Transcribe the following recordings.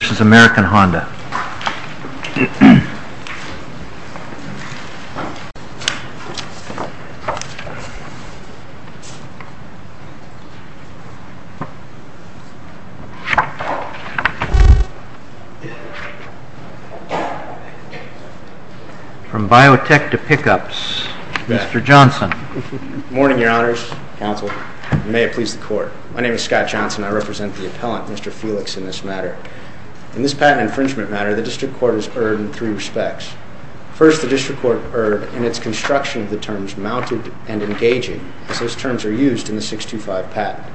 This is American Honda. From biotech to pickups, Mr. Johnson. Good morning, your honors, counsel. May it please the court. My name is Scott Johnson. I represent the appellant, Mr. Felix, In this patent infringement matter, the district court has erred in three respects. First, the district court erred in its construction of the terms mounted and engaging, as those terms are used in the 625 patent.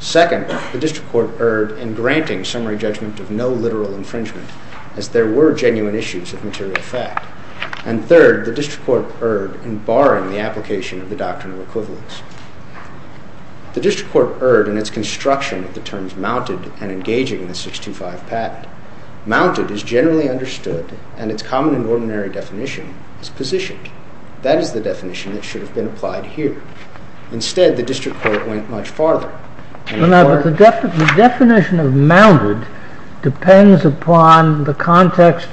Second, the district court erred in granting summary judgment of no literal infringement, as there were genuine issues of material fact. And third, the district court erred in barring the application of the doctrine of equivalence. The district court erred in its construction of the terms mounted and engaging in the 625 patent. Mounted is generally understood, and its common and ordinary definition is positioned. That is the definition that should have been applied here. Instead, the district court went much farther. The definition of mounted depends upon the context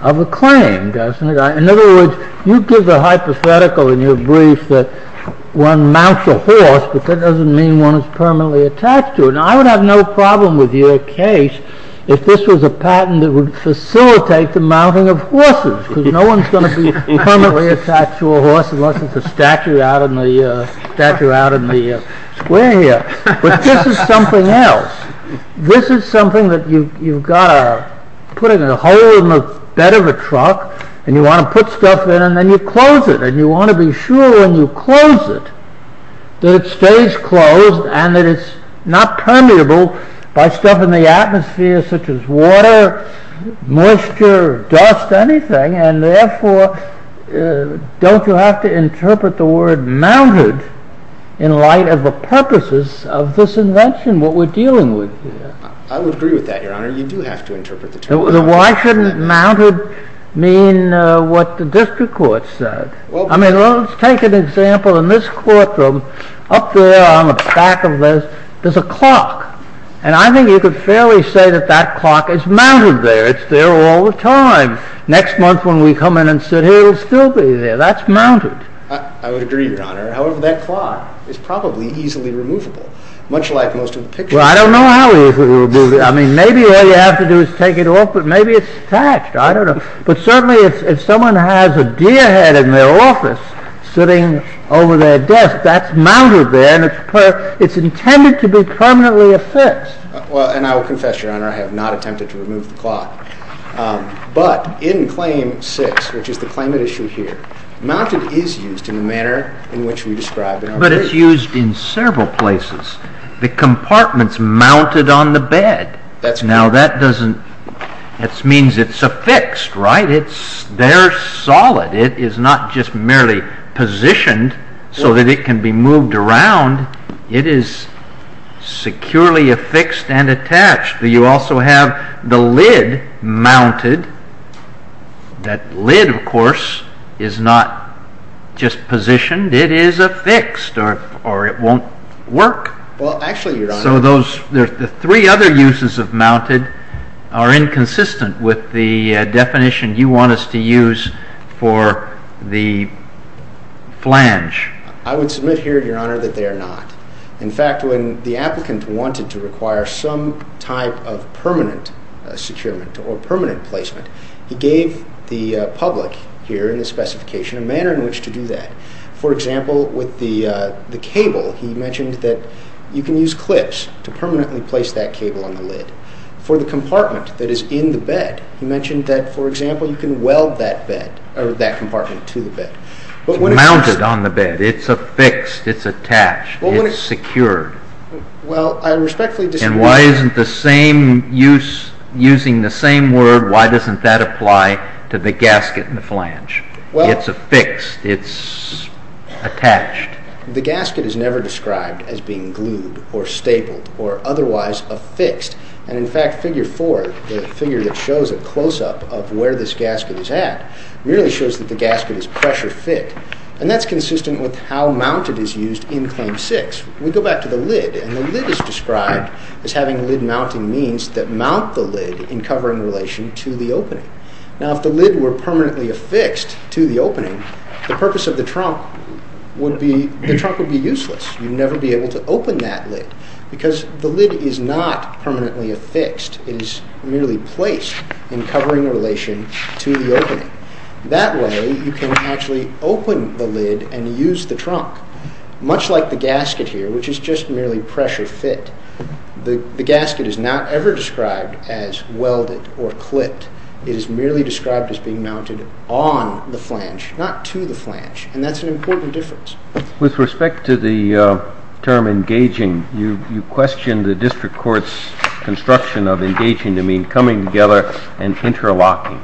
of the claim, doesn't it? In other words, you give the hypothetical in your brief that one mounts a horse, but that doesn't mean one is permanently attached to it. Now, I would have no problem with your case if this was a patent that would facilitate the mounting of horses, because no one's going to be permanently attached to a horse unless it's a statue out in the square here. But this is something else. This is something that you've got to put in a hole in the bed of a truck, and you want to put stuff in, and then you close it. And you want to be sure when you close it that it stays closed, and that it's not permeable by stuff in the atmosphere such as water, moisture, dust, anything. And therefore, don't you have to interpret the word mounted in light of the purposes of this invention, what we're dealing with here? I would agree with that, Your Honor. You do have to interpret the term mounted. Then why shouldn't mounted mean what the district court said? I mean, let's take an example. In this courtroom, up there on the back of this, there's a clock. And I think you could fairly say that that clock is mounted there. It's there all the time. Next month when we come in and sit here, it'll still be there. That's mounted. I would agree, Your Honor. However, that clock is probably easily removable. Much like most of the pictures. Well, I don't know how easily it would be removable. I mean, maybe all you have to do is take it off, but maybe it's attached. I don't know. But certainly, if someone has a deer head in their office sitting over their desk, that's mounted there, and it's intended to be permanently affixed. Well, and I will confess, Your Honor, I have not attempted to remove the clock. But in Claim 6, which is the claimant issue here, mounted is used in the manner in which we describe it. But it's used in several places. The compartment's mounted on the bed. Now, that means it's affixed, right? It's there solid. It is not just merely positioned so that it can be moved around. It is securely affixed and attached. You also have the lid mounted. That lid, of course, is not just positioned. It is affixed or it won't work. Well, actually, Your Honor. So the three other uses of mounted are inconsistent with the definition you want us to use for the flange. I would submit here, Your Honor, that they are not. In fact, when the applicant wanted to require some type of permanent securement or permanent placement, he gave the public here in the specification a manner in which to do that. For example, with the cable, he mentioned that you can use clips to permanently place that cable on the lid. For the compartment that is in the bed, he mentioned that, for example, you can weld that compartment to the bed. It's mounted on the bed. It's affixed. It's attached. It's secured. Well, I respectfully disagree. And why isn't the same use, using the same word, why doesn't that apply to the gasket in the flange? It's affixed. It's attached. The gasket is never described as being glued or stapled or otherwise affixed. And, in fact, Figure 4, the figure that shows a close-up of where this gasket is at, merely shows that the gasket is pressure fit. And that's consistent with how mounted is used in Claim 6. We go back to the lid. And the lid is described as having lid mounting means that mount the lid in covering relation to the opening. Now, if the lid were permanently affixed to the opening, the purpose of the trunk would be useless. You'd never be able to open that lid because the lid is not permanently affixed. It is merely placed in covering relation to the opening. That way, you can actually open the lid and use the trunk. Much like the gasket here, which is just merely pressure fit, the gasket is not ever described as welded or clipped. It is merely described as being mounted on the flange, not to the flange. And that's an important difference. With respect to the term engaging, you question the district court's construction of engaging to mean coming together and interlocking.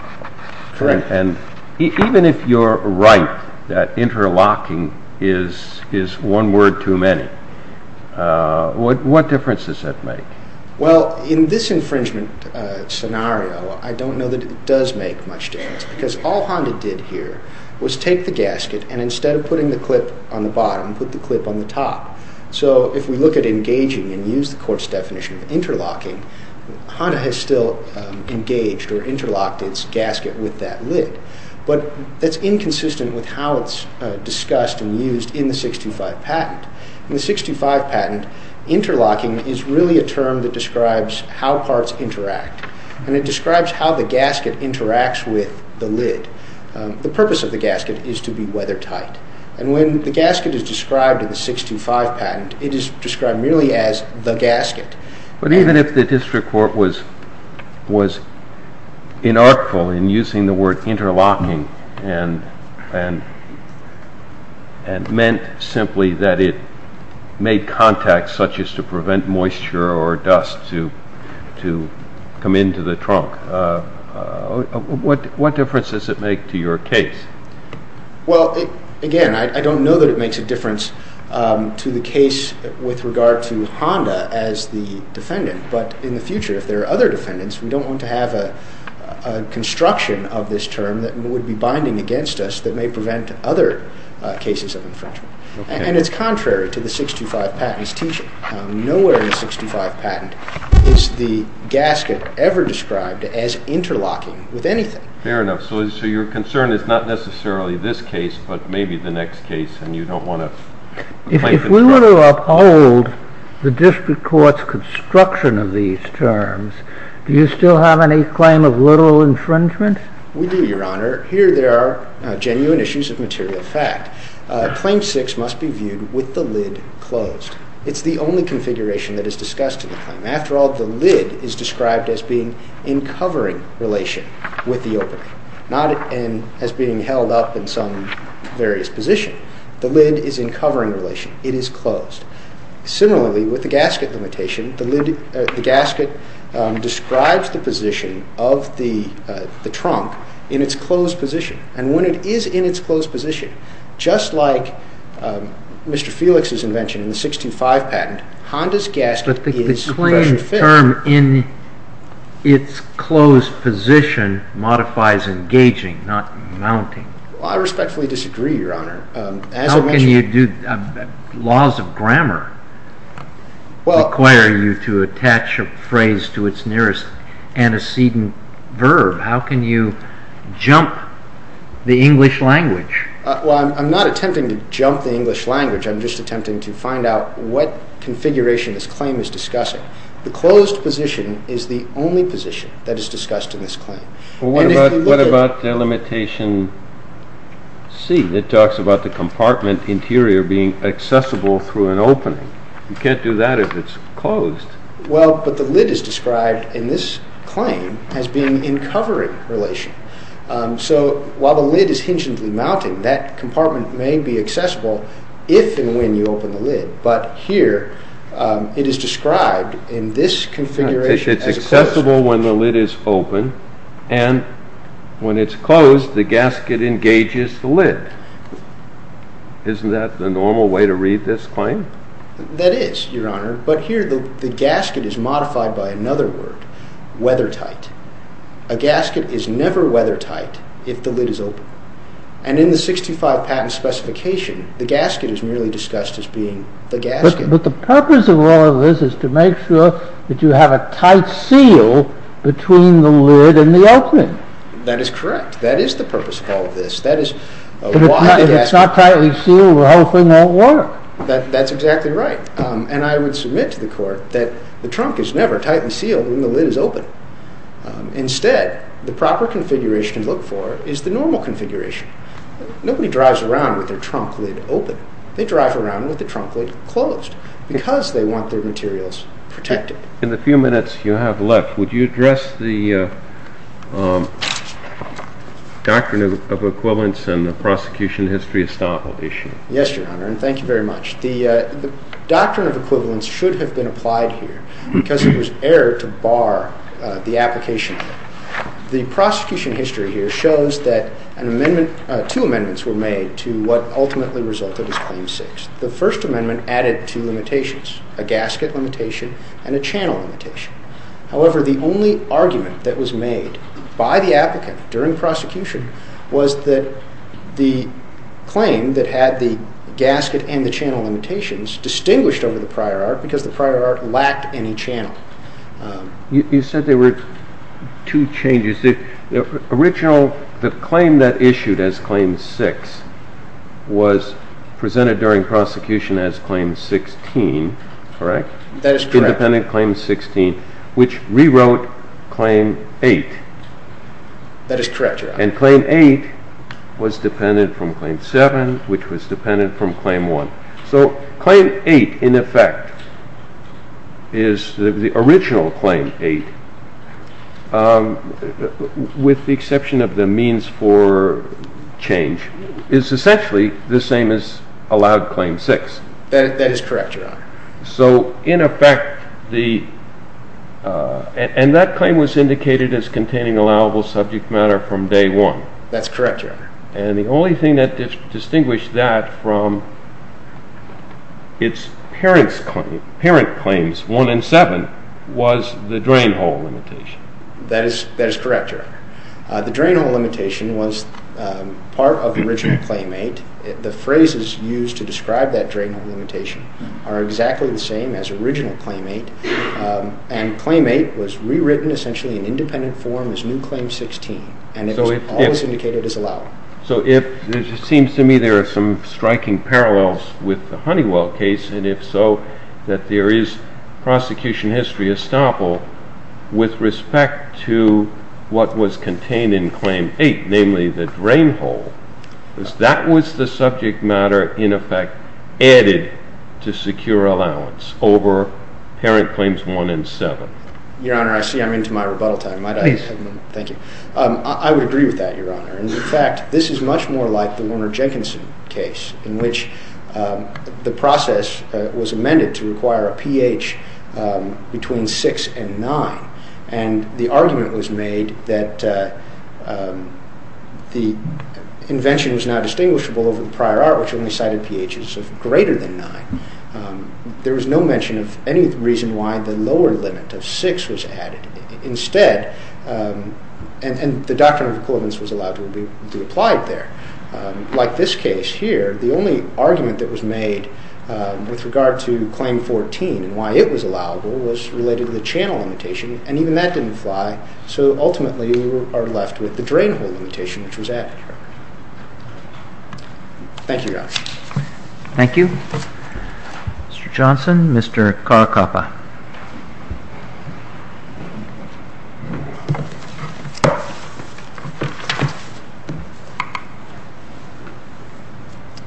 Correct. And even if you're right that interlocking is one word too many, what difference does that make? Well, in this infringement scenario, I don't know that it does make much difference because all Honda did here was take the gasket and instead of putting the clip on the bottom, put the clip on the top. So if we look at engaging and use the court's definition of interlocking, Honda has still engaged or interlocked its gasket with that lid. But that's inconsistent with how it's discussed and used in the 625 patent. In the 625 patent, interlocking is really a term that describes how parts interact. And it describes how the gasket interacts with the lid. The purpose of the gasket is to be weathertight. And when the gasket is described in the 625 patent, it is described merely as the gasket. But even if the district court was inartful in using the word interlocking and meant simply that it made contact, such as to prevent moisture or dust to come into the trunk, what difference does it make to your case? Well, again, I don't know that it makes a difference to the case with regard to Honda as the defendant. But in the future, if there are other defendants, we don't want to have a construction of this term that would be binding against us that may prevent other cases of infringement. And it's contrary to the 625 patent's teaching. Nowhere in the 625 patent is the gasket ever described as interlocking with anything. Fair enough. So your concern is not necessarily this case, but maybe the next case, and you don't want to... If we were to uphold the district court's construction of these terms, do you still have any claim of literal infringement? We do, Your Honor. Here there are genuine issues of material fact. Claim 6 must be viewed with the lid closed. It's the only configuration that is discussed in the claim. After all, the lid is described as being in covering relation with the opening, not as being held up in some various position. The lid is in covering relation. It is closed. Similarly, with the gasket limitation, the gasket describes the position of the trunk in its closed position. And when it is in its closed position, just like Mr. Felix's invention in the 625 patent, Honda's gasket is compression fit. But the claim term in its closed position modifies engaging, not mounting. I respectfully disagree, Your Honor. How can you do... laws of grammar require you to attach a phrase to its nearest antecedent verb. How can you jump the English language? Well, I'm not attempting to jump the English language. I'm just attempting to find out what configuration this claim is discussing. The closed position is the only position that is discussed in this claim. What about the limitation C that talks about the compartment interior being accessible through an opening? You can't do that if it's closed. Well, but the lid is described in this claim as being in covering relation. So, while the lid is hingently mounting, that compartment may be accessible if and when you open the lid. But here, it is described in this configuration as closed. It's accessible when the lid is open, and when it's closed, the gasket engages the lid. Isn't that the normal way to read this claim? That is, Your Honor. But here, the gasket is modified by another word, weathertight. A gasket is never weathertight if the lid is open. And in the 65 patent specification, the gasket is merely discussed as being the gasket. But the purpose of all of this is to make sure that you have a tight seal between the lid and the opening. That is correct. That is the purpose of all of this. If it's not tightly sealed, the whole thing won't work. That's exactly right. And I would submit to the Court that the trunk is never tightly sealed when the lid is open. Instead, the proper configuration to look for is the normal configuration. Nobody drives around with their trunk lid open. They drive around with the trunk lid closed because they want their materials protected. In the few minutes you have left, would you address the doctrine of equivalence and the prosecution history estoppel issue? Yes, Your Honor, and thank you very much. The doctrine of equivalence should have been applied here because it was error to bar the application. The prosecution history here shows that two amendments were made to what ultimately resulted as Claim 6. The First Amendment added two limitations, a gasket limitation and a channel limitation. However, the only argument that was made by the applicant during prosecution was that the claim that had the gasket and the channel limitations distinguished over the prior art because the prior art lacked any channel. You said there were two changes. The claim that issued as Claim 6 was presented during prosecution as Claim 16, correct? That is correct. It was presented as Claim 16, which rewrote Claim 8. That is correct, Your Honor. And Claim 8 was dependent from Claim 7, which was dependent from Claim 1. So Claim 8, in effect, is the original Claim 8, with the exception of the means for change. It is essentially the same as allowed Claim 6. That is correct, Your Honor. And that claim was indicated as containing allowable subject matter from Day 1. That is correct, Your Honor. And the only thing that distinguished that from its parent claims, 1 and 7, was the drain hole limitation. That is correct, Your Honor. The drain hole limitation was part of the original Claim 8. The phrases used to describe that drain hole limitation are exactly the same as original Claim 8, and Claim 8 was rewritten essentially in independent form as new Claim 16, and it was always indicated as allowable. So it seems to me there are some striking parallels with the Honeywell case, and if so, that there is prosecution history estoppel with respect to what was contained in Claim 8, namely the drain hole. That was the subject matter, in effect, added to secure allowance over parent claims 1 and 7. Your Honor, I see I'm into my rebuttal time. Please. Thank you. I would agree with that, Your Honor. In fact, this is much more like the Warner Jenkinson case, in which the process was amended to require a pH between 6 and 9, and the argument was made that the invention was now distinguishable over the prior art, which only cited pHs of greater than 9. There was no mention of any reason why the lower limit of 6 was added. Instead, and the doctrine of equivalence was allowed to be applied there. Like this case here, the only argument that was made with regard to Claim 14 and why it was allowable was related to the channel limitation, and even that didn't fly, so ultimately we are left with the drain hole limitation, which was added. Thank you, Your Honor. Thank you. Mr. Johnson, Mr. Caracappa.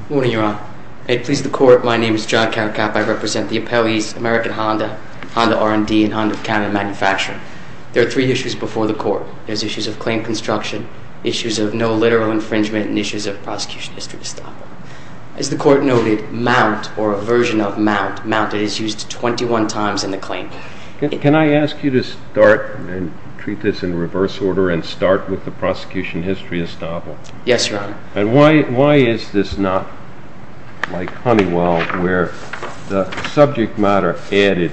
Good morning, Your Honor. It pleases the Court. My name is John Caracappa. I represent the appellees, American Honda, Honda R&D, and Honda of Canada Manufacturing. There are three issues before the Court. There's issues of claim construction, issues of no literal infringement, and issues of prosecution history estoppel. As the Court noted, mount, or a version of mount, mounted is used 21 times in the claim. Can I ask you to start and treat this in reverse order and start with the prosecution history estoppel? Yes, Your Honor. And why is this not like Honeywell, where the subject matter added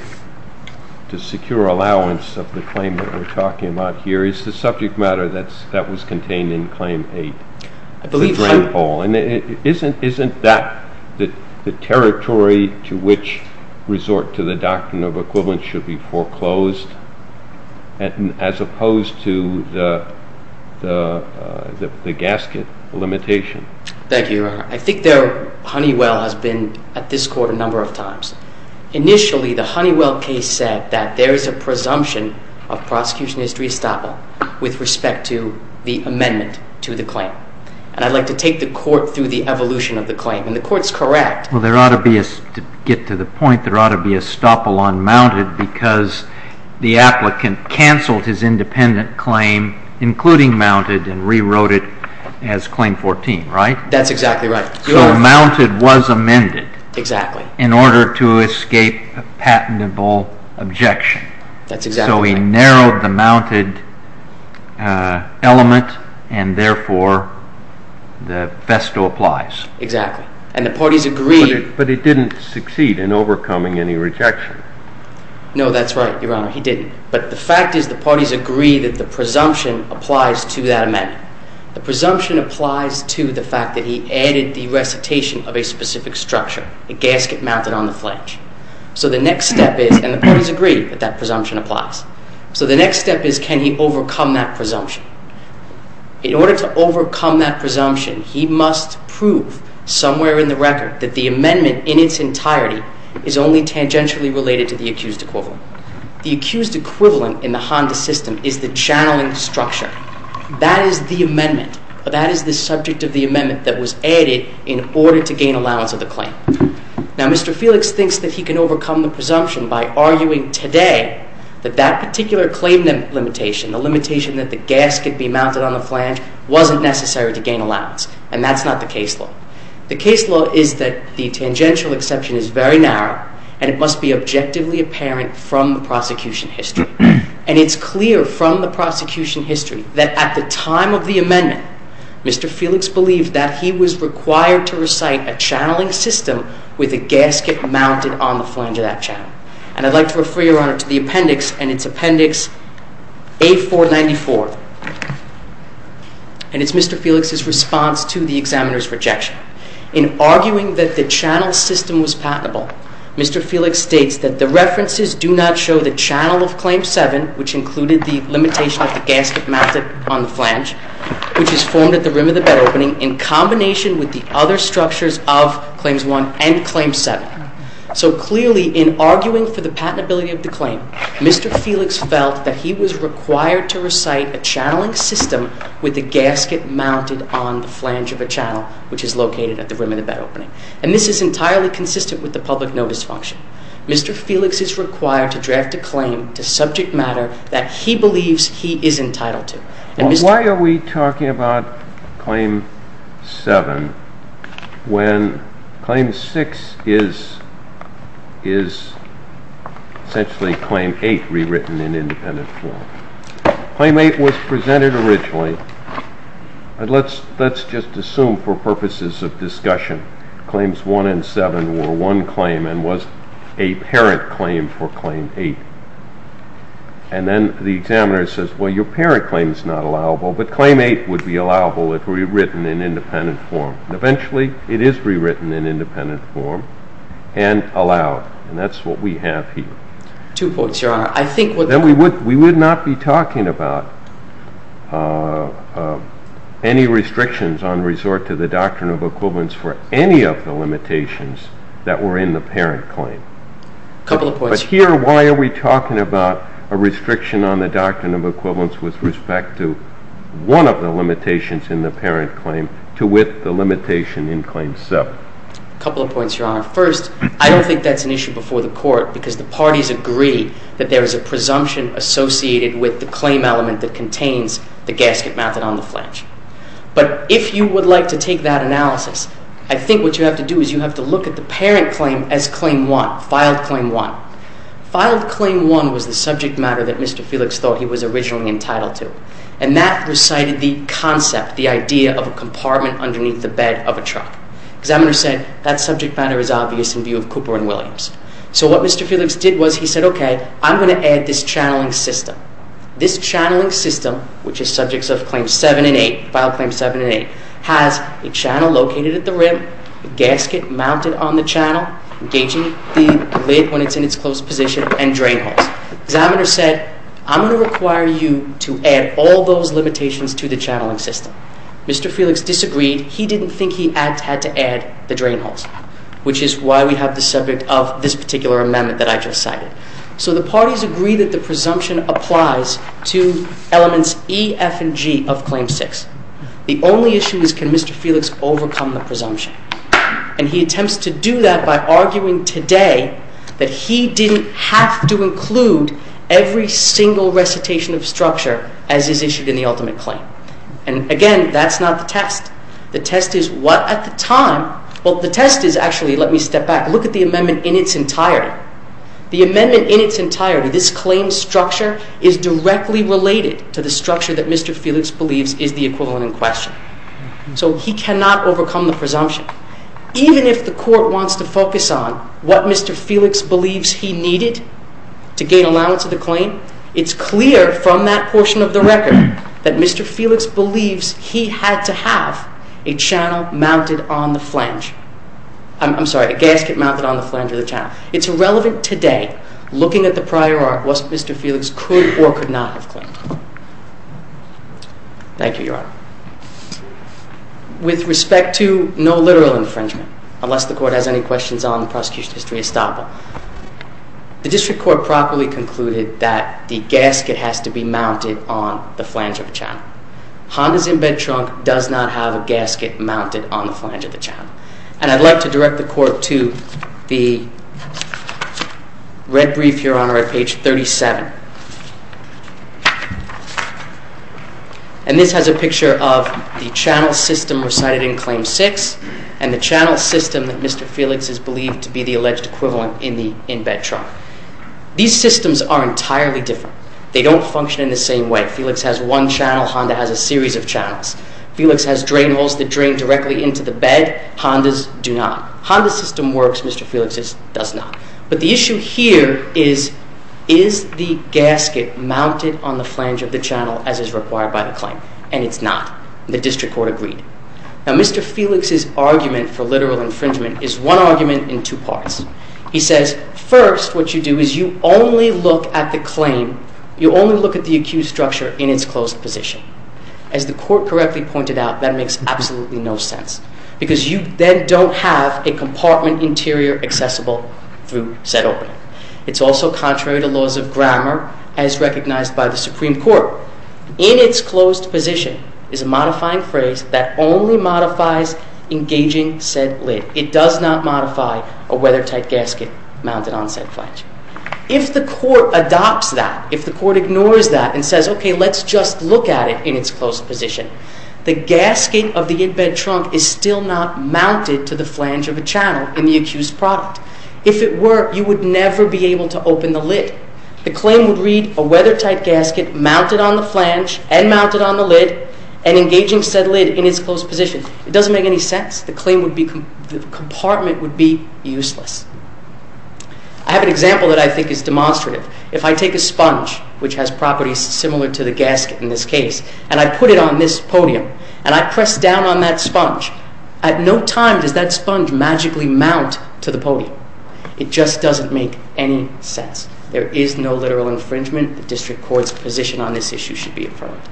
to secure allowance of the claim that we're talking about here is the subject matter that was contained in Claim 8, the drain hole. Isn't that the territory to which resort to the doctrine of equivalence should be foreclosed, as opposed to the gasket limitation? Thank you, Your Honor. I think Honeywell has been at this Court a number of times. Initially, the Honeywell case said that there is a presumption of prosecution history estoppel with respect to the amendment to the claim. And I'd like to take the Court through the evolution of the claim. And the Court's correct. Well, to get to the point, there ought to be estoppel on mounted because the applicant canceled his independent claim, including mounted, and rewrote it as Claim 14, right? That's exactly right. So mounted was amended. Exactly. In order to escape a patentable objection. That's exactly right. So he narrowed the mounted element, and therefore the festo applies. Exactly. And the parties agree. But it didn't succeed in overcoming any rejection. No, that's right, Your Honor. He didn't. But the fact is the parties agree that the presumption applies to that amendment. The presumption applies to the fact that he added the recitation of a specific structure, a gasket mounted on the flange. So the next step is, and the parties agree that that presumption applies. So the next step is can he overcome that presumption? In order to overcome that presumption, he must prove somewhere in the record that the amendment in its entirety is only tangentially related to the accused equivalent. The accused equivalent in the Honda system is the channeling structure. That is the amendment. That is the subject of the amendment that was added in order to gain allowance of the claim. Now, Mr. Felix thinks that he can overcome the presumption by arguing today that that particular claim limitation, the limitation that the gasket be mounted on the flange, wasn't necessary to gain allowance. And that's not the case law. The case law is that the tangential exception is very narrow and it must be objectively apparent from the prosecution history. And it's clear from the prosecution history that at the time of the amendment, Mr. Felix believed that he was required to recite a channeling system with a gasket mounted on the flange of that channel. And I'd like to refer you, Your Honor, to the appendix, and it's Appendix A-494. And it's Mr. Felix's response to the examiner's rejection. In arguing that the channel system was patentable, Mr. Felix states that the references do not show the channel of Claim 7, which included the limitation of the gasket mounted on the flange, which is formed at the rim of the bed opening, in combination with the other structures of Claims 1 and Claim 7. So clearly, in arguing for the patentability of the claim, Mr. Felix felt that he was required to recite a channeling system with a gasket mounted on the flange of a channel, which is located at the rim of the bed opening. And this is entirely consistent with the public notice function. Mr. Felix is required to draft a claim to subject matter that he believes he is entitled to. Why are we talking about Claim 7 when Claim 6 is essentially Claim 8 rewritten in independent form? Claim 8 was presented originally, and let's just assume for purposes of discussion, Claims 1 and 7 were one claim and was a parent claim for Claim 8. And then the examiner says, well, your parent claim is not allowable, but Claim 8 would be allowable if rewritten in independent form. Eventually, it is rewritten in independent form and allowed, and that's what we have here. Two points, Your Honor. We would not be talking about any restrictions on resort to the doctrine of equivalence for any of the limitations that were in the parent claim. A couple of points. But here, why are we talking about a restriction on the doctrine of equivalence with respect to one of the limitations in the parent claim to with the limitation in Claim 7? A couple of points, Your Honor. First, I don't think that's an issue before the Court because the parties agree that there is a presumption associated with the claim element that contains the gasket mounted on the flange. But if you would like to take that analysis, I think what you have to do is you have to look at the parent claim as Claim 1, filed Claim 1. Filed Claim 1 was the subject matter that Mr. Felix thought he was originally entitled to. And that recited the concept, the idea of a compartment underneath the bed of a truck. Examiner said that subject matter is obvious in view of Cooper and Williams. So what Mr. Felix did was he said, okay, I'm going to add this channeling system. This channeling system, which is subjects of Claim 7 and 8, filed Claim 7 and 8, has a channel located at the rim, a gasket mounted on the channel, engaging the lid when it's in its closed position, and drain holes. Examiner said, I'm going to require you to add all those limitations to the channeling system. Mr. Felix disagreed. He didn't think he had to add the drain holes, which is why we have the subject of this particular amendment that I just cited. So the parties agree that the presumption applies to elements E, F, and G of Claim 6. The only issue is can Mr. Felix overcome the presumption? And he attempts to do that by arguing today that he didn't have to include every single recitation of structure as is issued in the ultimate claim. And again, that's not the test. The test is what at the time, well, the test is actually, let me step back, look at the amendment in its entirety. The amendment in its entirety, this claim structure, is directly related to the structure that Mr. Felix believes is the equivalent in question. So he cannot overcome the presumption. Even if the court wants to focus on what Mr. Felix believes he needed to gain allowance of the claim, it's clear from that portion of the record that Mr. Felix believes he had to have a channel mounted on the flange. I'm sorry, a gasket mounted on the flange of the channel. It's irrelevant today, looking at the prior art, what Mr. Felix could or could not have claimed. Thank you, Your Honor. With respect to no literal infringement, unless the court has any questions on the prosecution history estoppel, the district court properly concluded that the gasket has to be mounted on the flange of the channel. Honda's inbed trunk does not have a gasket mounted on the flange of the channel. And I'd like to direct the court to the red brief here on our page 37. And this has a picture of the channel system recited in Claim 6, and the channel system that Mr. Felix has believed to be the alleged equivalent in the inbed trunk. These systems are entirely different. They don't function in the same way. Felix has one channel. Honda has a series of channels. Felix has drain holes that drain directly into the bed. Honda's do not. Honda's system works. Mr. Felix's does not. But the issue here is, is the gasket mounted on the flange of the channel as is required by the claim? And it's not. The district court agreed. Now, Mr. Felix's argument for literal infringement is one argument in two parts. He says, first, what you do is you only look at the claim, you only look at the accused structure in its closed position. As the court correctly pointed out, that makes absolutely no sense, because you then don't have a compartment interior accessible through said opening. It's also contrary to laws of grammar, as recognized by the Supreme Court. In its closed position is a modifying phrase that only modifies engaging said lid. It does not modify a weathertight gasket mounted on said flange. If the court adopts that, if the court ignores that and says, okay, let's just look at it in its closed position, the gasket of the in-bed trunk is still not mounted to the flange of a channel in the accused product. If it were, you would never be able to open the lid. The claim would read, a weathertight gasket mounted on the flange and mounted on the lid, and engaging said lid in its closed position. It doesn't make any sense. The claim would be, the compartment would be useless. I have an example that I think is demonstrative. If I take a sponge, which has properties similar to the gasket in this case, and I put it on this podium, and I press down on that sponge, at no time does that sponge magically mount to the podium. It just doesn't make any sense. There is no literal infringement. The district court's position on this issue should be affirmed.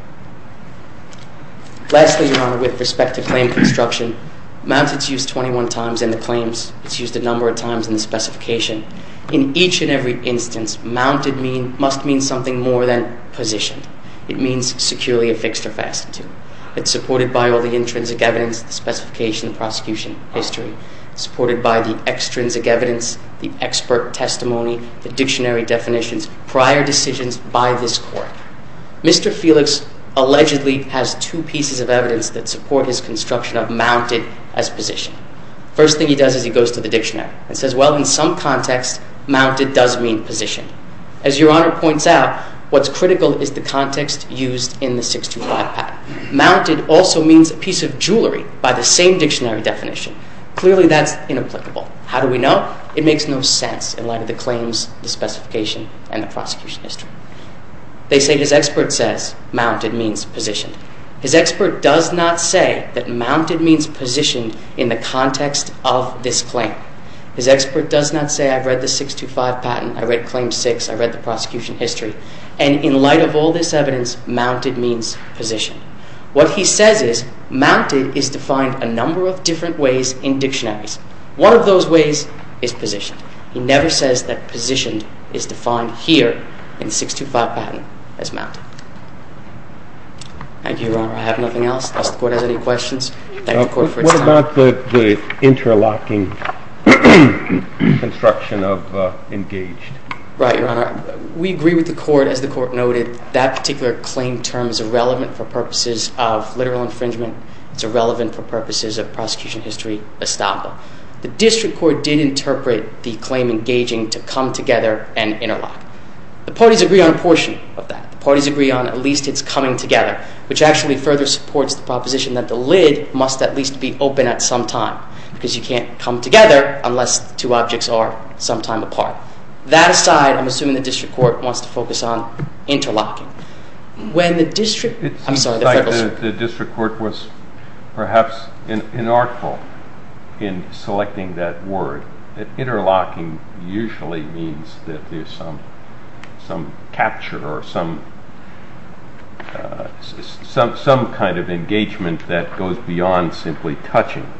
Lastly, Your Honor, with respect to claim construction, mounted is used 21 times in the claims. It's used a number of times in the specification. In each and every instance, mounted must mean something more than positioned. It means securely affixed or fastened to. It's supported by all the intrinsic evidence, the specification, the prosecution, history. It's supported by the extrinsic evidence, the expert testimony, the dictionary definitions, prior decisions by this court. Mr. Felix allegedly has two pieces of evidence that support his construction of mounted as position. First thing he does is he goes to the dictionary and says, well, in some context, mounted does mean position. As Your Honor points out, what's critical is the context used in the 625 patent. Mounted also means a piece of jewelry by the same dictionary definition. Clearly, that's inapplicable. How do we know? It makes no sense in light of the claims, the specification, and the prosecution history. They say his expert says mounted means position. His expert does not say that mounted means position in the context of this claim. His expert does not say I've read the 625 patent, I've read Claim 6, I've read the prosecution history, and in light of all this evidence, mounted means position. What he says is mounted is defined a number of different ways in dictionaries. One of those ways is positioned. He never says that positioned is defined here in the 625 patent as mounted. Thank you, Your Honor. I have nothing else. Does the court have any questions? Thank the court for its time. What about the interlocking construction of engaged? Right, Your Honor. We agree with the court. As the court noted, that particular claim term is irrelevant for purposes of literal infringement. It's irrelevant for purposes of prosecution history estoppel. The district court did interpret the claim engaging to come together and interlock. The parties agree on a portion of that. The parties agree on at least it's coming together, which actually further supports the proposition that the lid must at least be open at some time because you can't come together unless two objects are sometime apart. That aside, I'm assuming the district court wants to focus on interlocking. It seems like the district court was perhaps inartful in selecting that word. Interlocking usually means that there's some capture or some kind of engagement that goes beyond simply touching,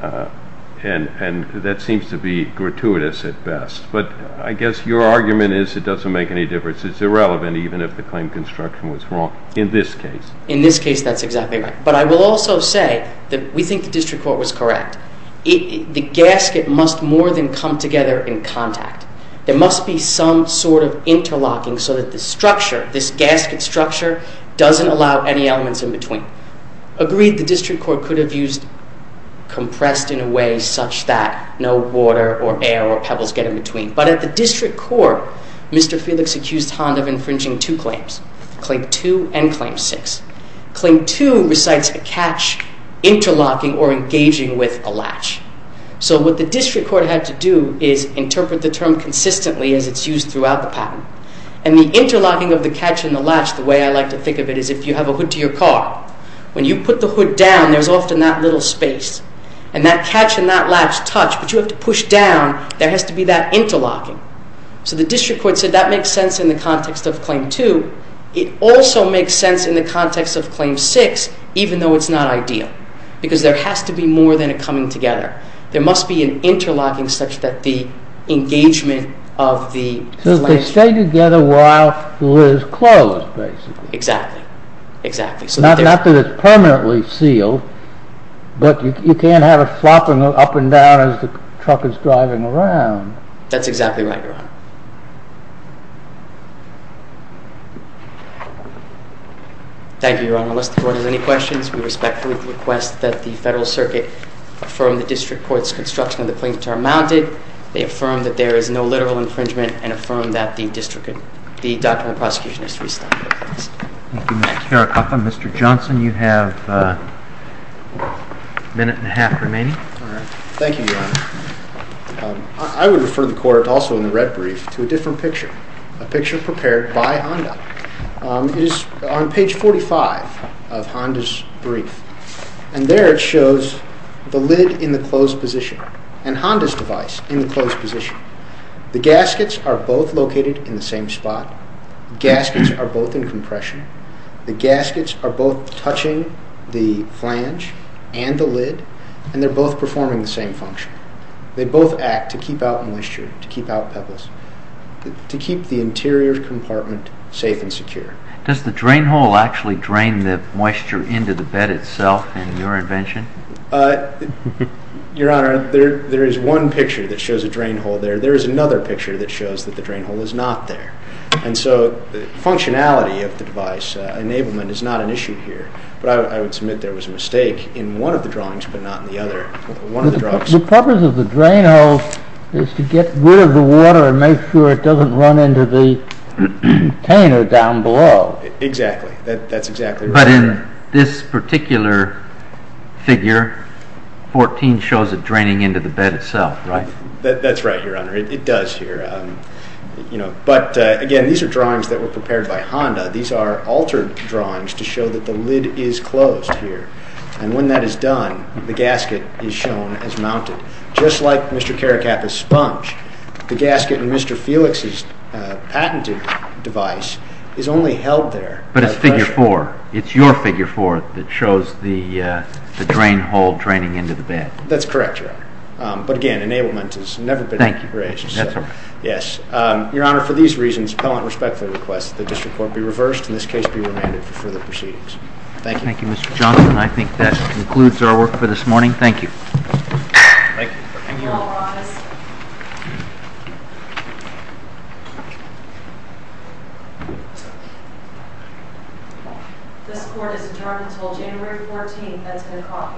and that seems to be gratuitous at best. But I guess your argument is it doesn't make any difference. It's irrelevant even if the claim construction was wrong in this case. In this case, that's exactly right. But I will also say that we think the district court was correct. The gasket must more than come together in contact. There must be some sort of interlocking so that the structure, this gasket structure, doesn't allow any elements in between. Agreed, the district court could have used compressed in a way such that no water or air or pebbles get in between. But at the district court, Mr. Felix accused Honda of infringing two claims, Claim 2 and Claim 6. Claim 2 recites a catch interlocking or engaging with a latch. So what the district court had to do is interpret the term consistently as it's used throughout the patent. And the interlocking of the catch and the latch, the way I like to think of it, is if you have a hood to your car. When you put the hood down, there's often that little space. And that catch and that latch touch, but you have to push down. There has to be that interlocking. So the district court said that makes sense in the context of Claim 2. It also makes sense in the context of Claim 6, even though it's not ideal. Because there has to be more than a coming together. There must be an interlocking such that the engagement of the latch. So they stay together while it is closed, basically. Exactly, exactly. Not that it's permanently sealed. But you can't have it flopping up and down as the truck is driving around. That's exactly right, Your Honor. Thank you, Your Honor. Unless the court has any questions, we respectfully request that the Federal Circuit affirm the district court's construction of the claim to our mounted. They affirm that there is no literal infringement and affirm that the doctrinal prosecution has restated their claims. Thank you, Mr. Caracalla. Mr. Johnson, you have a minute and a half remaining. Thank you, Your Honor. I would refer the court also in the red brief to a different picture, a picture prepared by Honda. It is on page 45 of Honda's brief. And there it shows the lid in the closed position and Honda's device in the closed position. The gaskets are both located in the same spot. The gaskets are both in compression. The gaskets are both touching the flange and the lid, and they're both performing the same function. They both act to keep out moisture, to keep out pebbles, to keep the interior compartment safe and secure. Does the drain hole actually drain the moisture into the bed itself in your invention? Your Honor, there is one picture that shows a drain hole there. There is another picture that shows that the drain hole is not there. And so functionality of the device, enablement, is not an issue here. But I would submit there was a mistake in one of the drawings but not in the other. The purpose of the drain hole is to get rid of the water and make sure it doesn't run into the container down below. Exactly. That's exactly right. But in this particular figure, 14 shows it draining into the bed itself, right? That's right, Your Honor. It does here. But again, these are drawings that were prepared by Honda. These are altered drawings to show that the lid is closed here. And when that is done, the gasket is shown as mounted. Just like Mr. Caracappa's sponge, the gasket in Mr. Felix's patented device is only held there. But it's figure 4. It's your figure 4 that shows the drain hole draining into the bed. That's correct, Your Honor. But again, enablement has never been raised. That's right. Your Honor, for these reasons, appellant respectfully requests that the district court be reversed and this case be remanded for further proceedings. Thank you. Thank you, Mr. Johnson. I think that concludes our work for this morning. Thank you. Thank you. You may all rise. This court is adjourned until January 14th at 10 o'clock a.m. Thank you.